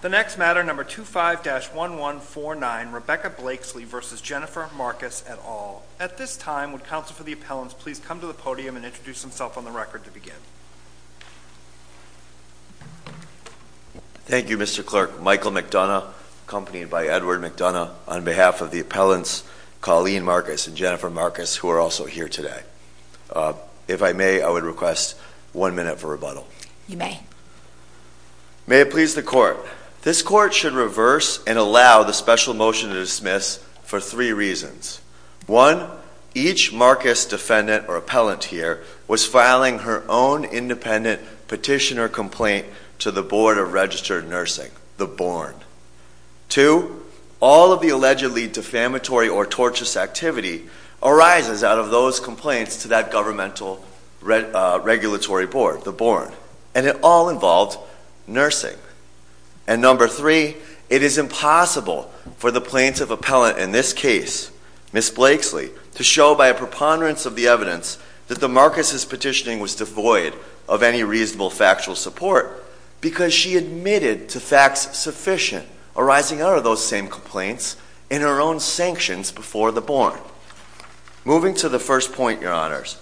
The next matter, number 25-1149, Rebecca Blakesley v. Jennifer Marcus et al. At this time, would counsel for the appellants please come to the podium and introduce themselves on the record to begin? Thank you, Mr. Clerk. Michael McDonough, accompanied by Edward McDonough, on behalf of the appellants Colleen Marcus and Jennifer Marcus, who are also here today. If I may, I would request one minute for rebuttal. You may. May it please the Court. This Court should reverse and allow the special motion to dismiss for three reasons. One, each Marcus defendant or appellant here was filing her own independent petition or complaint to the Board of Registered Nursing, the BORN. Two, all of the allegedly defamatory or torturous activity arises out of those complaints to that governmental regulatory board, the BORN. And it all involved nursing. And number three, it is impossible for the plaintiff appellant in this case, Ms. Blakesley, to show by a preponderance of the evidence that the Marcus' petitioning was devoid of any reasonable factual support because she admitted to facts sufficient arising out of those same complaints in her own sanctions before the BORN. Moving to the first point, Your Honors.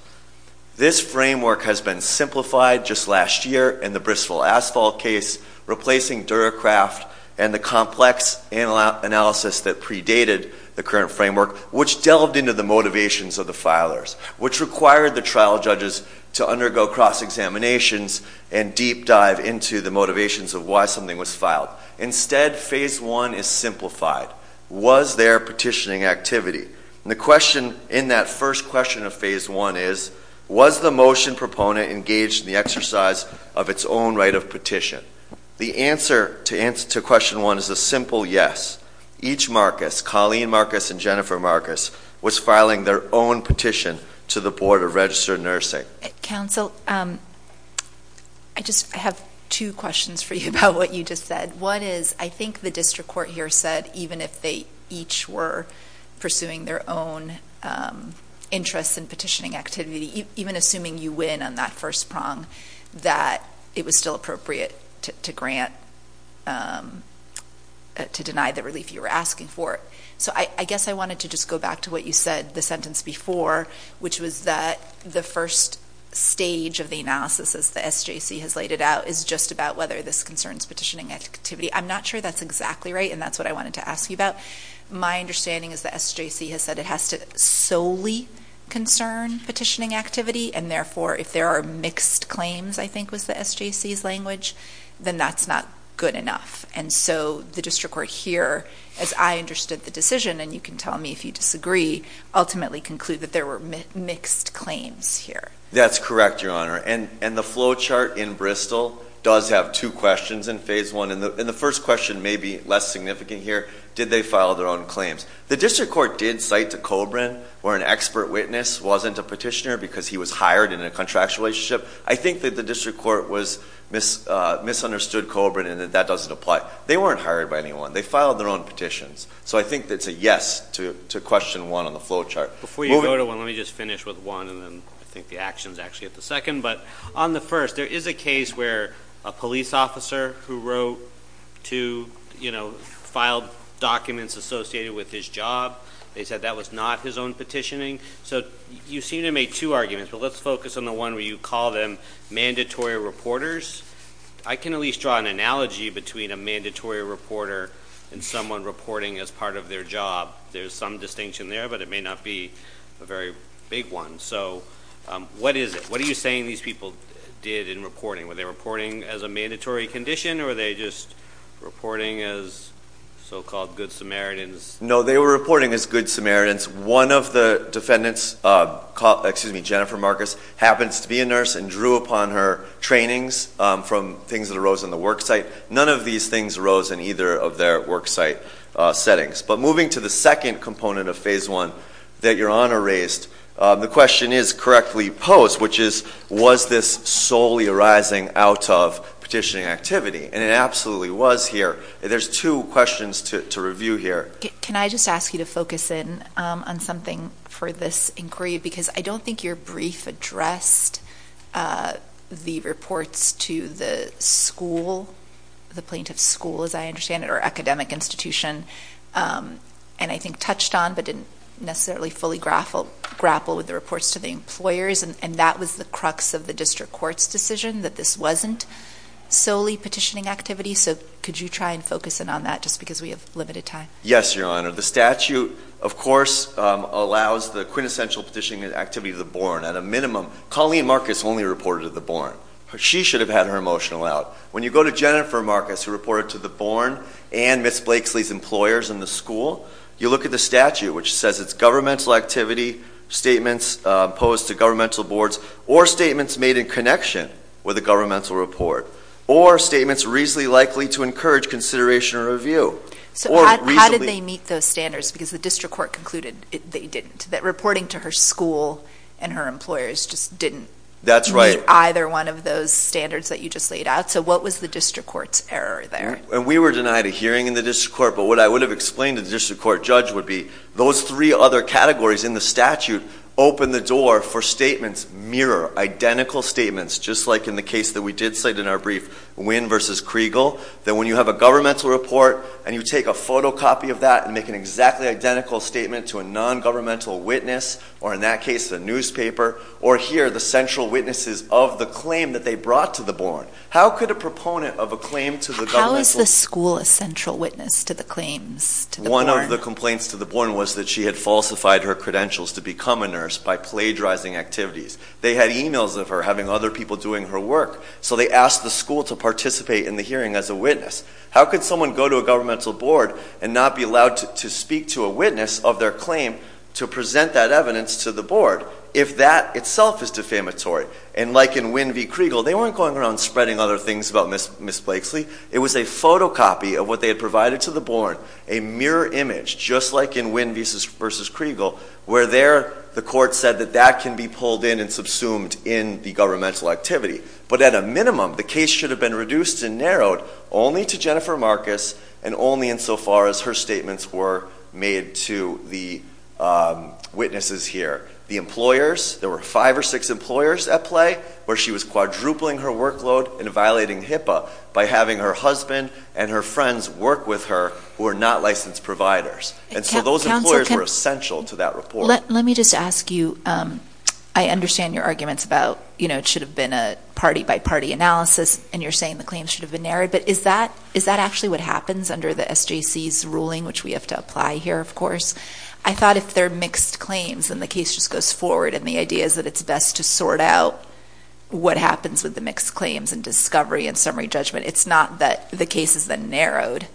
This framework has been simplified just last year in the Bristol Asphalt case, replacing DuraCraft and the complex analysis that predated the current framework, which delved into the motivations of the filers, which required the trial judges to undergo cross-examinations and deep dive into the motivations of why something was filed. Instead, phase one is simplified. Was there petitioning activity? And the question in that first question of phase one is, was the motion proponent engaged in the exercise of its own right of petition? The answer to question one is a simple yes. Each Marcus, Colleen Marcus and Jennifer Marcus, was filing their own petition to the Board of Registered Nursing. Counsel, I just have two questions for you about what you just said. One is, I think the district court here said even if they each were pursuing their own interests in petitioning activity, even assuming you win on that first prong, that it was still appropriate to grant, to deny the relief you were asking for. So I guess I wanted to just go back to what you said the sentence before, which was that the first stage of the analysis, as the SJC has laid it out, is just about whether this concerns petitioning activity. I'm not sure that's exactly right, and that's what I wanted to ask you about. My understanding is the SJC has said it has to solely concern petitioning activity, and therefore if there are mixed claims, I think was the SJC's language, then that's not good enough. And so the district court here, as I understood the decision, and you can tell me if you disagree, ultimately concluded that there were mixed claims here. That's correct, Your Honor. And the flow chart in Bristol does have two questions in phase one. And the first question may be less significant here. Did they file their own claims? The district court did cite to Cobran where an expert witness wasn't a petitioner because he was hired in a contractual relationship. I think that the district court misunderstood Cobran and that that doesn't apply. They weren't hired by anyone. They filed their own petitions. So I think it's a yes to question one on the flow chart. Before you go to one, let me just finish with one, and then I think the action is actually at the second. But on the first, there is a case where a police officer who wrote to, you know, filed documents associated with his job, they said that was not his own petitioning. So you seem to have made two arguments, but let's focus on the one where you call them mandatory reporters. I can at least draw an analogy between a mandatory reporter and someone reporting as part of their job. There's some distinction there, but it may not be a very big one. So what is it? What are you saying these people did in reporting? Were they reporting as a mandatory condition or were they just reporting as so-called good Samaritans? No, they were reporting as good Samaritans. One of the defendants, excuse me, Jennifer Marcus, happens to be a nurse and drew upon her trainings from things that arose in the worksite. None of these things arose in either of their worksite settings. But moving to the second component of phase one that Your Honor raised, the question is correctly posed, which is was this solely arising out of petitioning activity? And it absolutely was here. There's two questions to review here. Can I just ask you to focus in on something for this inquiry? Because I don't think your brief addressed the reports to the school, the plaintiff's school, as I understand it, or academic institution, and I think touched on but didn't necessarily fully grapple with the reports to the employers. And that was the crux of the district court's decision, that this wasn't solely petitioning activity. So could you try and focus in on that just because we have limited time? Yes, Your Honor. The statute, of course, allows the quintessential petitioning activity to the born. At a minimum, Colleen Marcus only reported to the born. She should have had her motion allowed. When you go to Jennifer Marcus, who reported to the born and Ms. Blakeslee's employers and the school, you look at the statute, which says it's governmental activity, statements posed to governmental boards, or statements made in connection with a governmental report, or statements reasonably likely to encourage consideration or review. So how did they meet those standards? Because the district court concluded they didn't. That reporting to her school and her employers just didn't meet either one of those standards that you just laid out. So what was the district court's error there? We were denied a hearing in the district court. But what I would have explained to the district court judge would be those three other categories in the statute open the door for statements, mirror, identical statements, just like in the case that we did cite in our brief, Wynne v. Kriegel, that when you have a governmental report and you take a photocopy of that and make an exactly identical statement to a non-governmental witness, or in that case a newspaper, or hear the central witnesses of the claim that they brought to the born, how could a proponent of a claim to the governmental... How is the school a central witness to the claims to the born? One of the complaints to the born was that she had falsified her credentials to become a nurse by plagiarizing activities. They had e-mails of her having other people doing her work. So they asked the school to participate in the hearing as a witness. How could someone go to a governmental board and not be allowed to speak to a witness of their claim to present that evidence to the board if that itself is defamatory? And like in Wynne v. Kriegel, they weren't going around spreading other things about Ms. Blakeslee. It was a photocopy of what they had provided to the born, a mirror image, just like in Wynne v. Kriegel, where there the court said that that can be pulled in and subsumed in the governmental activity. But at a minimum, the case should have been reduced and narrowed only to Jennifer Marcus and only insofar as her statements were made to the witnesses here. The employers, there were five or six employers at play where she was quadrupling her workload and violating HIPAA by having her husband and her friends work with her who are not licensed providers. And so those employers were essential to that report. Let me just ask you, I understand your arguments about, you know, it should have been a party-by-party analysis and you're saying the claims should have been narrowed. But is that actually what happens under the SJC's ruling, which we have to apply here, of course? I thought if they're mixed claims and the case just goes forward and the idea is that it's best to sort out what happens with the mixed claims and discovery and summary judgment. It's not that the case is then narrowed.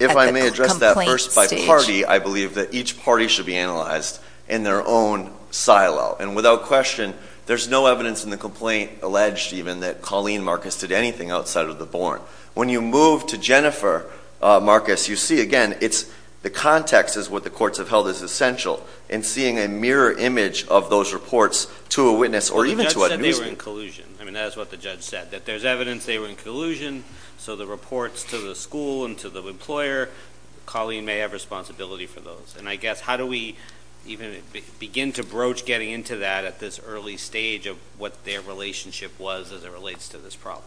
If I may address that first by party, I believe that each party should be analyzed in their own silo. And without question, there's no evidence in the complaint alleged even that Colleen Marcus did anything outside of the born. When you move to Jennifer Marcus, you see, again, it's the context is what the courts have held is essential in seeing a mirror image of those reports to a witness or even to a newspaper. The judge said they were in collusion. I mean, that's what the judge said, that there's evidence they were in collusion. So the reports to the school and to the employer, Colleen may have responsibility for those. And I guess how do we even begin to broach getting into that at this early stage of what their relationship was as it relates to this problem?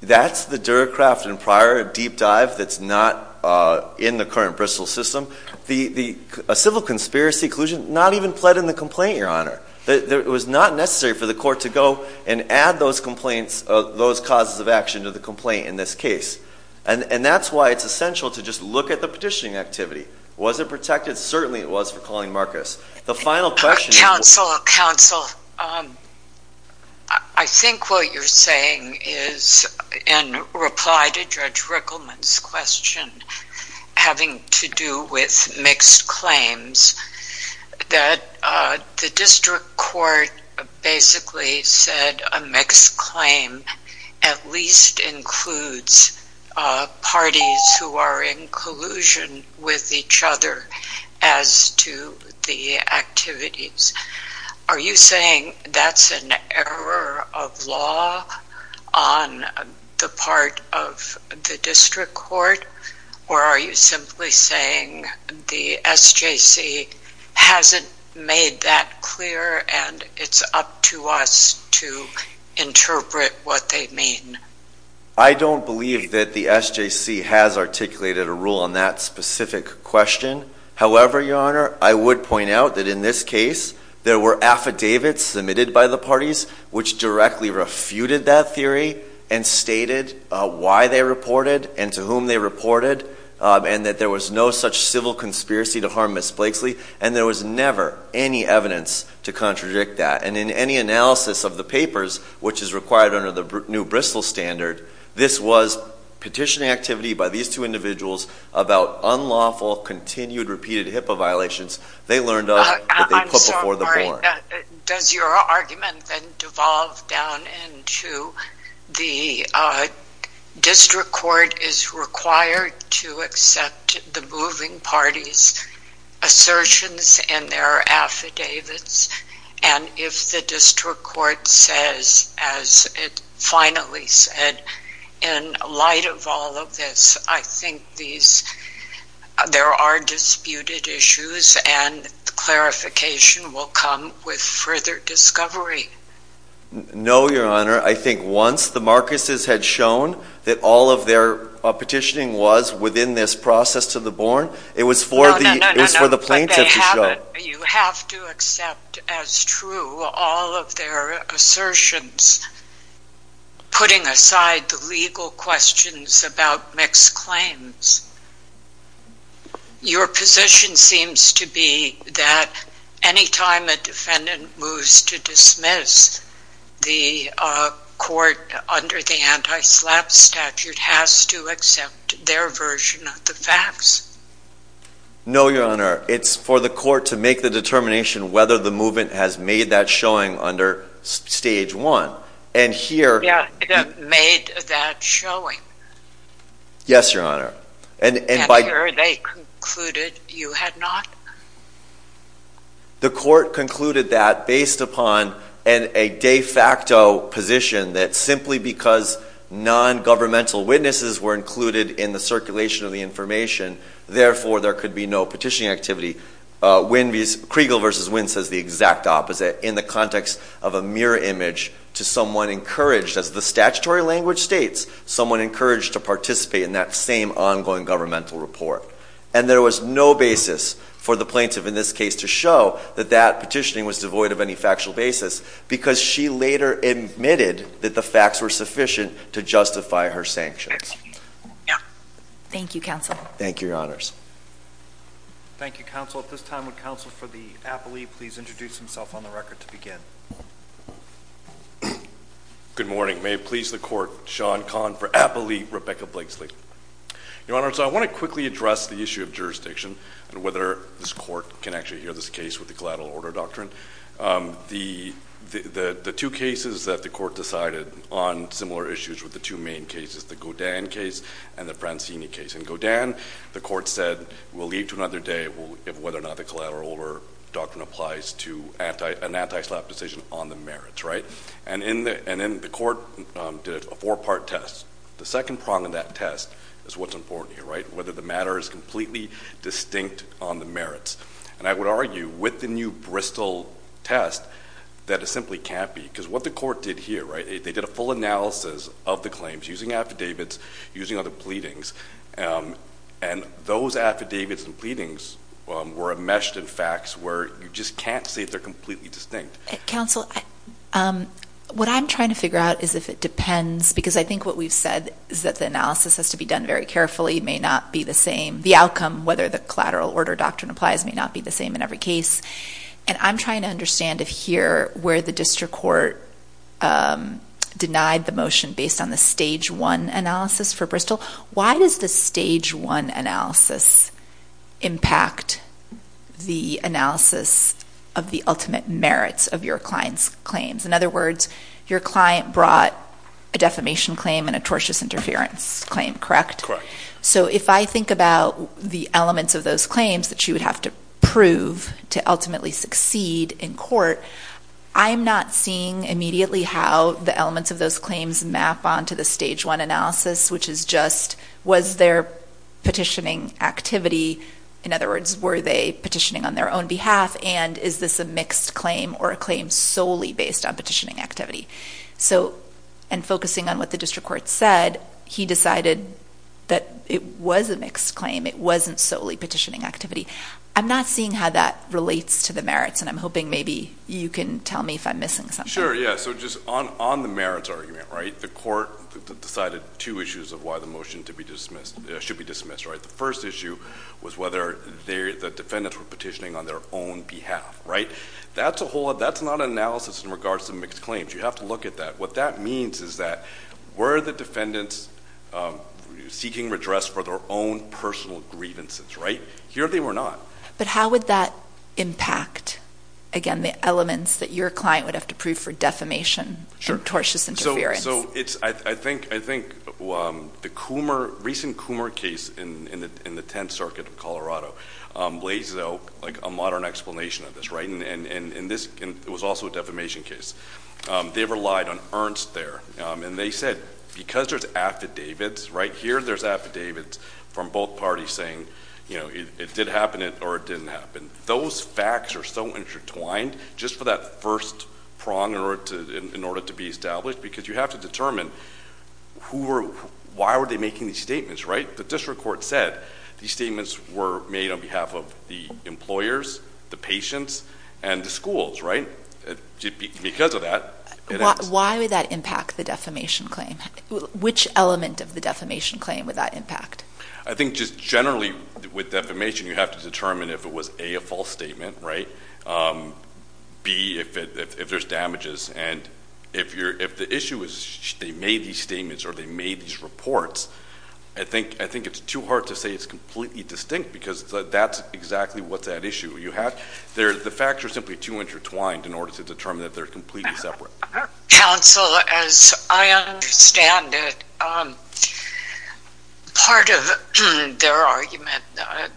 That's the Durecraft and Pryor deep dive that's not in the current Bristol system. A civil conspiracy collusion not even pled in the complaint, Your Honor. It was not necessary for the court to go and add those complaints, those causes of action to the complaint in this case. And that's why it's essential to just look at the petitioning activity. Was it protected? Certainly it was for Colleen Marcus. The final question... Well, counsel, I think what you're saying is in reply to Judge Rickleman's question having to do with mixed claims, that the district court basically said a mixed claim at least includes parties who are in collusion with each other as to the activities. Are you saying that's an error of law on the part of the district court? Or are you simply saying the SJC hasn't made that clear and it's up to us to interpret what they mean? I don't believe that the SJC has articulated a rule on that specific question. However, Your Honor, I would point out that in this case there were affidavits submitted by the parties which directly refuted that theory and stated why they reported and to whom they reported and that there was no such civil conspiracy to harm Ms. Blakeslee. And there was never any evidence to contradict that. And in any analysis of the papers, which is required under the new Bristol standard, this was petitioning activity by these two individuals about unlawful, continued, repeated HIPAA violations they learned of that they put before the board. Does your argument then devolve down into the district court is required to accept the moving parties' assertions and their affidavits? And if the district court says, as it finally said, in light of all of this, I think there are disputed issues and clarification will come with further discovery. No, Your Honor. I think once the Marcus' had shown that all of their petitioning was within this process to the board, it was for the plaintiff to show. You have to accept as true all of their assertions, putting aside the legal questions about mixed claims. Your position seems to be that any time a defendant moves to dismiss, the court under the anti-SLAPP statute has to accept their version of the facts. No, Your Honor. It's for the court to make the determination whether the movement has made that showing under stage one. Yeah, it made that showing. Yes, Your Honor. And here they concluded you had not? The court concluded that based upon a de facto position that simply because non-governmental witnesses were included in the circulation of the information, therefore there could be no petitioning activity. Kregel v. Winn says the exact opposite in the context of a mirror image to someone encouraged, as the statutory language states, someone encouraged to participate in that same ongoing governmental report. And there was no basis for the plaintiff in this case to show that that petitioning was devoid of any factual basis because she later admitted that the facts were sufficient to justify her sanctions. Thank you, Counsel. Thank you, Your Honors. Thank you, Counsel. At this time, would Counsel for the appellee please introduce himself on the record to begin? Good morning. May it please the Court. Sean Kahn for appellee, Rebecca Blakeslee. Your Honor, so I want to quickly address the issue of jurisdiction and whether this Court can actually hear this case with the Collateral Order Doctrine. The two cases that the Court decided on similar issues with the two main cases, the Godin case and the Francini case. In Godin, the Court said, we'll leave to another day whether or not the Collateral Order Doctrine applies to an anti-slap decision on the merits, right? And in the Court did a four-part test. The second prong of that test is what's important here, right, whether the matter is completely distinct on the merits. And I would argue with the new Bristol test that it simply can't be because what the Court did here, right, they did a full analysis of the claims using affidavits, using other pleadings, and those affidavits and pleadings were enmeshed in facts where you just can't say they're completely distinct. Counsel, what I'm trying to figure out is if it depends because I think what we've said is that the analysis has to be done very carefully. It may not be the same. The outcome, whether the Collateral Order Doctrine applies, may not be the same in every case. And I'm trying to understand if here where the District Court denied the motion based on the Stage 1 analysis for Bristol, why does the Stage 1 analysis impact the analysis of the ultimate merits of your client's claims? In other words, your client brought a defamation claim and a tortious interference claim, correct? So if I think about the elements of those claims that you would have to prove to ultimately succeed in court, I'm not seeing immediately how the elements of those claims map onto the Stage 1 analysis, which is just was there petitioning activity? In other words, were they petitioning on their own behalf? And is this a mixed claim or a claim solely based on petitioning activity? And focusing on what the District Court said, he decided that it was a mixed claim. It wasn't solely petitioning activity. I'm not seeing how that relates to the merits, and I'm hoping maybe you can tell me if I'm missing something. Sure, yeah. So just on the merits argument, the court decided two issues of why the motion should be dismissed. The first issue was whether the defendants were petitioning on their own behalf, right? That's not an analysis in regards to mixed claims. You have to look at that. What that means is that were the defendants seeking redress for their own personal grievances, right? Here they were not. But how would that impact, again, the elements that your client would have to prove for defamation and tortious interference? So I think the recent Coomer case in the Tenth Circuit of Colorado lays out a modern explanation of this, right? And it was also a defamation case. They relied on Ernst there, and they said because there's affidavits, right? Here there's affidavits from both parties saying it did happen or it didn't happen. And those facts are so intertwined just for that first prong in order to be established because you have to determine why were they making these statements, right? The district court said these statements were made on behalf of the employers, the patients, and the schools, right? Because of that. Why would that impact the defamation claim? Which element of the defamation claim would that impact? I think just generally with defamation you have to determine if it was, A, a false statement, right? B, if there's damages. And if the issue is they made these statements or they made these reports, I think it's too hard to say it's completely distinct because that's exactly what's at issue. The facts are simply too intertwined in order to determine that they're completely separate. Counsel, as I understand it, part of their argument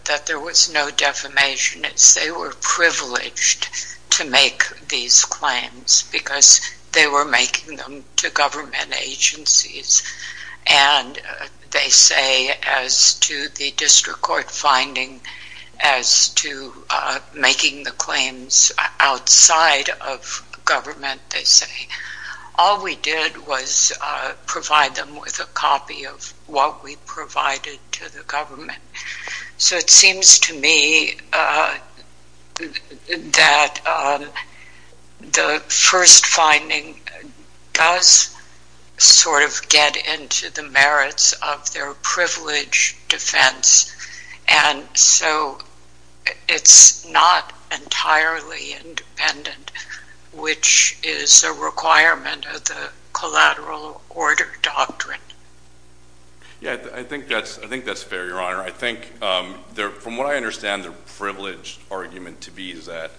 that there was no defamation is they were privileged to make these claims because they were making them to government agencies. And they say as to the district court finding as to making the claims outside of government, they say all we did was provide them with a copy of what we provided to the government. So it seems to me that the first finding does sort of get into the merits of their privileged defense. And so it's not entirely independent, which is a requirement of the collateral order doctrine. Yeah, I think that's fair, Your Honor. I think from what I understand their privileged argument to be is that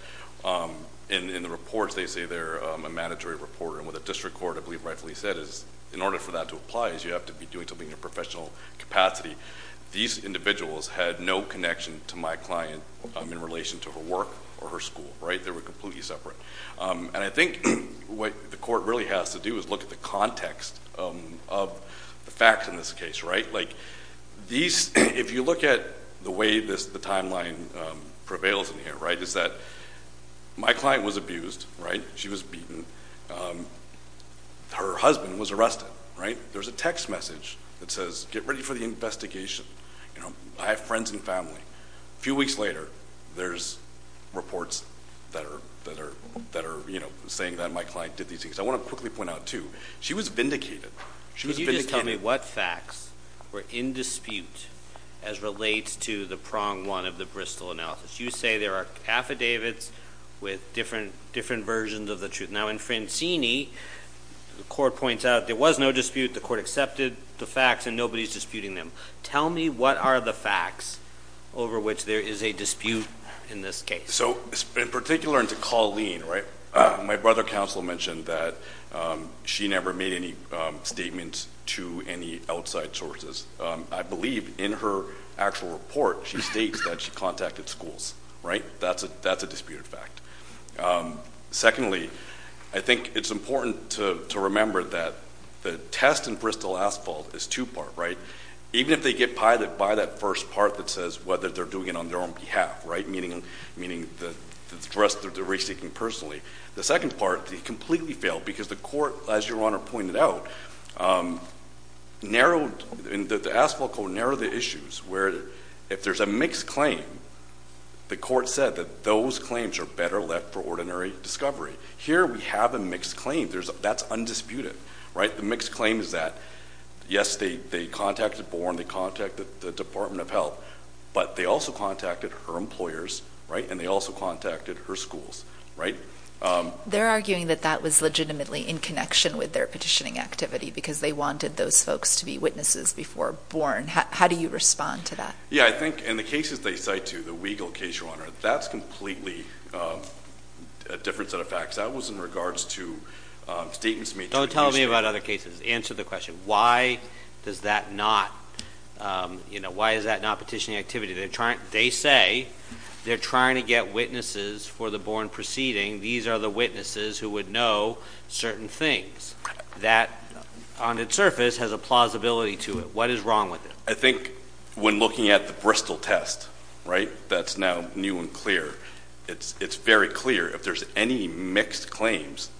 in the reports they say they're a mandatory reporter. And what the district court I believe rightfully said is in order for that to apply is you have to be doing something in a professional capacity. These individuals had no connection to my client in relation to her work or her school, right? They were completely separate. And I think what the court really has to do is look at the context of the facts in this case, right? Like if you look at the way the timeline prevails in here, right, is that my client was abused, right? She was beaten. Her husband was arrested, right? There's a text message that says get ready for the investigation. I have friends and family. A few weeks later, there's reports that are saying that my client did these things. I want to quickly point out, too, she was vindicated. She was vindicated. Could you just tell me what facts were in dispute as relates to the prong one of the Bristol analysis? You say there are affidavits with different versions of the truth. Now, in Francini, the court points out there was no dispute. The court accepted the facts and nobody's disputing them. Tell me what are the facts over which there is a dispute in this case. So, in particular, to Colleen, right, my brother counsel mentioned that she never made any statements to any outside sources. I believe in her actual report, she states that she contacted schools, right? That's a disputed fact. Secondly, I think it's important to remember that the test in Bristol Asphalt is two-part, right? Even if they get piloted by that first part that says whether they're doing it on their own behalf, right, meaning the rest of the race they can personally. The second part, they completely failed because the court, as Your Honor pointed out, narrowed the issues where if there's a mixed claim, the court said that those claims are better left for ordinary discovery. Here, we have a mixed claim. That's undisputed, right? The mixed claim is that, yes, they contacted Borne, they contacted the Department of Health, but they also contacted her employers, right, and they also contacted her schools, right? They're arguing that that was legitimately in connection with their petitioning activity because they wanted those folks to be witnesses before Borne. How do you respond to that? Yeah, I think in the cases they cite, too, the Weigel case, Your Honor, that's completely a different set of facts. That was in regards to statements made to the district. No, tell me about other cases. Answer the question. Why does that not, you know, why is that not petitioning activity? They say they're trying to get witnesses for the Borne proceeding. These are the witnesses who would know certain things. That, on its surface, has a plausibility to it. What is wrong with it? I think when looking at the Bristol test, right, that's now new and clear, it's very clear. If there's any mixed claims,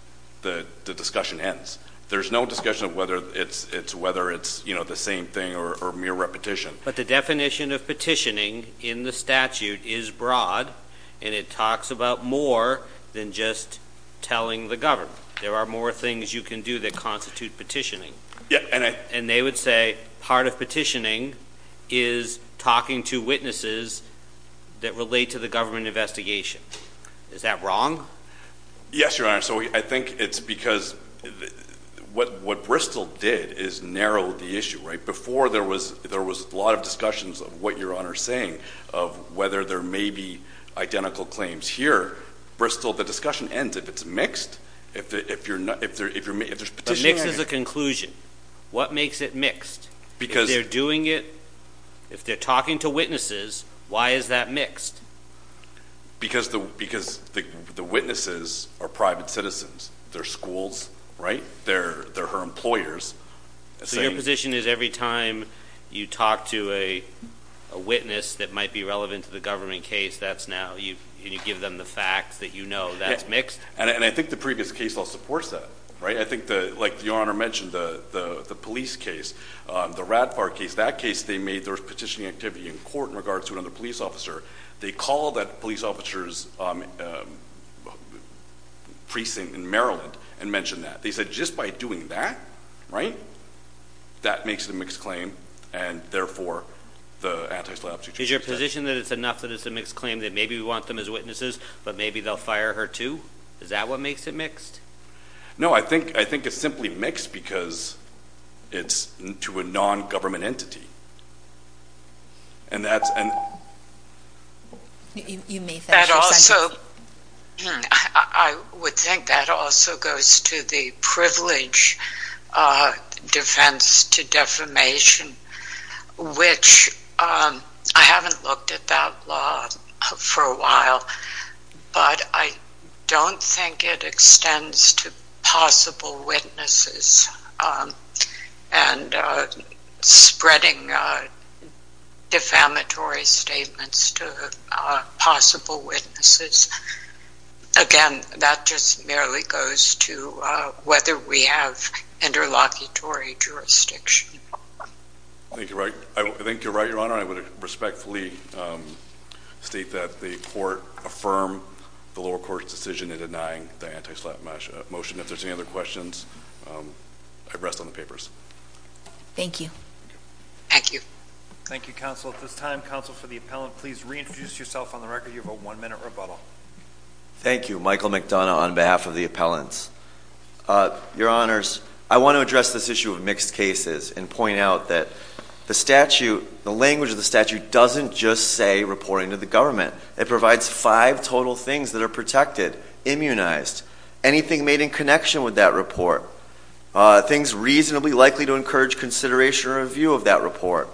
the discussion ends. There's no discussion of whether it's, you know, the same thing or mere repetition. But the definition of petitioning in the statute is broad, and it talks about more than just telling the government. There are more things you can do that constitute petitioning. And they would say part of petitioning is talking to witnesses that relate to the government investigation. Is that wrong? Yes, Your Honor. So I think it's because what Bristol did is narrow the issue, right? Before, there was a lot of discussions of what Your Honor is saying, of whether there may be identical claims. Here, Bristol, the discussion ends. If it's mixed, if there's petitioning. A mix is a conclusion. What makes it mixed? If they're doing it, if they're talking to witnesses, why is that mixed? Because the witnesses are private citizens. They're schools, right? They're her employers. So your position is every time you talk to a witness that might be relevant to the government case, that's now, you give them the facts that you know, that's mixed? And I think the previous case all supports that, right? I think, like Your Honor mentioned, the police case, the Radfar case, that case, they made their petitioning activity in court in regards to another police officer. They called that police officer's precinct in Maryland and mentioned that. They said just by doing that, right, that makes it a mixed claim, and therefore, the anti-slap suit. Is your position that it's enough that it's a mixed claim, that maybe we want them as witnesses, but maybe they'll fire her too? Is that what makes it mixed? No, I think it's simply mixed because it's to a non-government entity. And that's an... You may finish your sentence. I would think that also goes to the privilege defense to defamation, which I haven't looked at that law for a while, but I don't think it extends to possible witnesses and spreading defamatory statements to possible witnesses. Again, that just merely goes to whether we have interlocutory jurisdiction. I think you're right, Your Honor. I would respectfully state that the court affirmed the lower court's decision in denying the anti-slap motion. If there's any other questions, I rest on the papers. Thank you. Thank you. Thank you, counsel. At this time, counsel, for the appellant, please reintroduce yourself on the record. You have a one-minute rebuttal. Thank you. Michael McDonough on behalf of the appellants. Your Honors, I want to address this issue of mixed cases and point out that the statute, the language of the statute, doesn't just say reporting to the government. It provides five total things that are protected, immunized, anything made in connection with that report, things reasonably likely to encourage consideration or review of that report,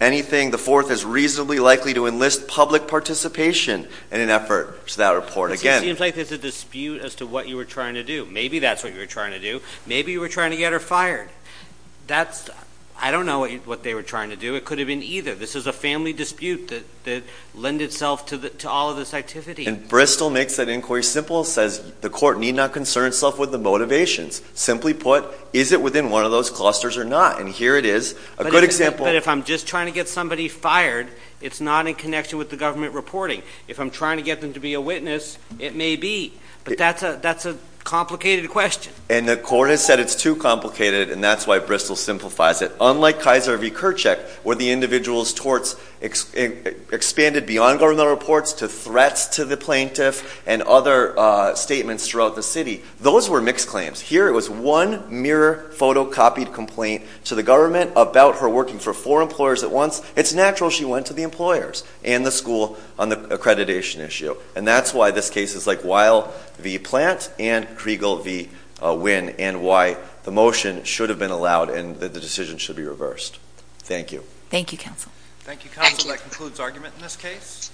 anything, the fourth is reasonably likely to enlist public participation in an effort to that report. It seems like there's a dispute as to what you were trying to do. Maybe that's what you were trying to do. Maybe you were trying to get her fired. I don't know what they were trying to do. It could have been either. This is a family dispute that lends itself to all of this activity. And Bristol makes that inquiry simple. It says the court need not concern itself with the motivations. Simply put, is it within one of those clusters or not? And here it is, a good example. But if I'm just trying to get somebody fired, it's not in connection with the government reporting. If I'm trying to get them to be a witness, it may be. But that's a complicated question. And the court has said it's too complicated, and that's why Bristol simplifies it. Unlike Kaiser v. Kerchak, where the individual's torts expanded beyond governmental reports to threats to the plaintiff and other statements throughout the city, those were mixed claims. Here it was one mirror photocopied complaint to the government about her working for four employers at once. It's natural she went to the employers and the school on the accreditation issue. And that's why this case is like Weil v. Plant and Kriegel v. Wynn, and why the motion should have been allowed and the decision should be reversed. Thank you. Thank you, counsel. Thank you, counsel. That concludes argument in this case.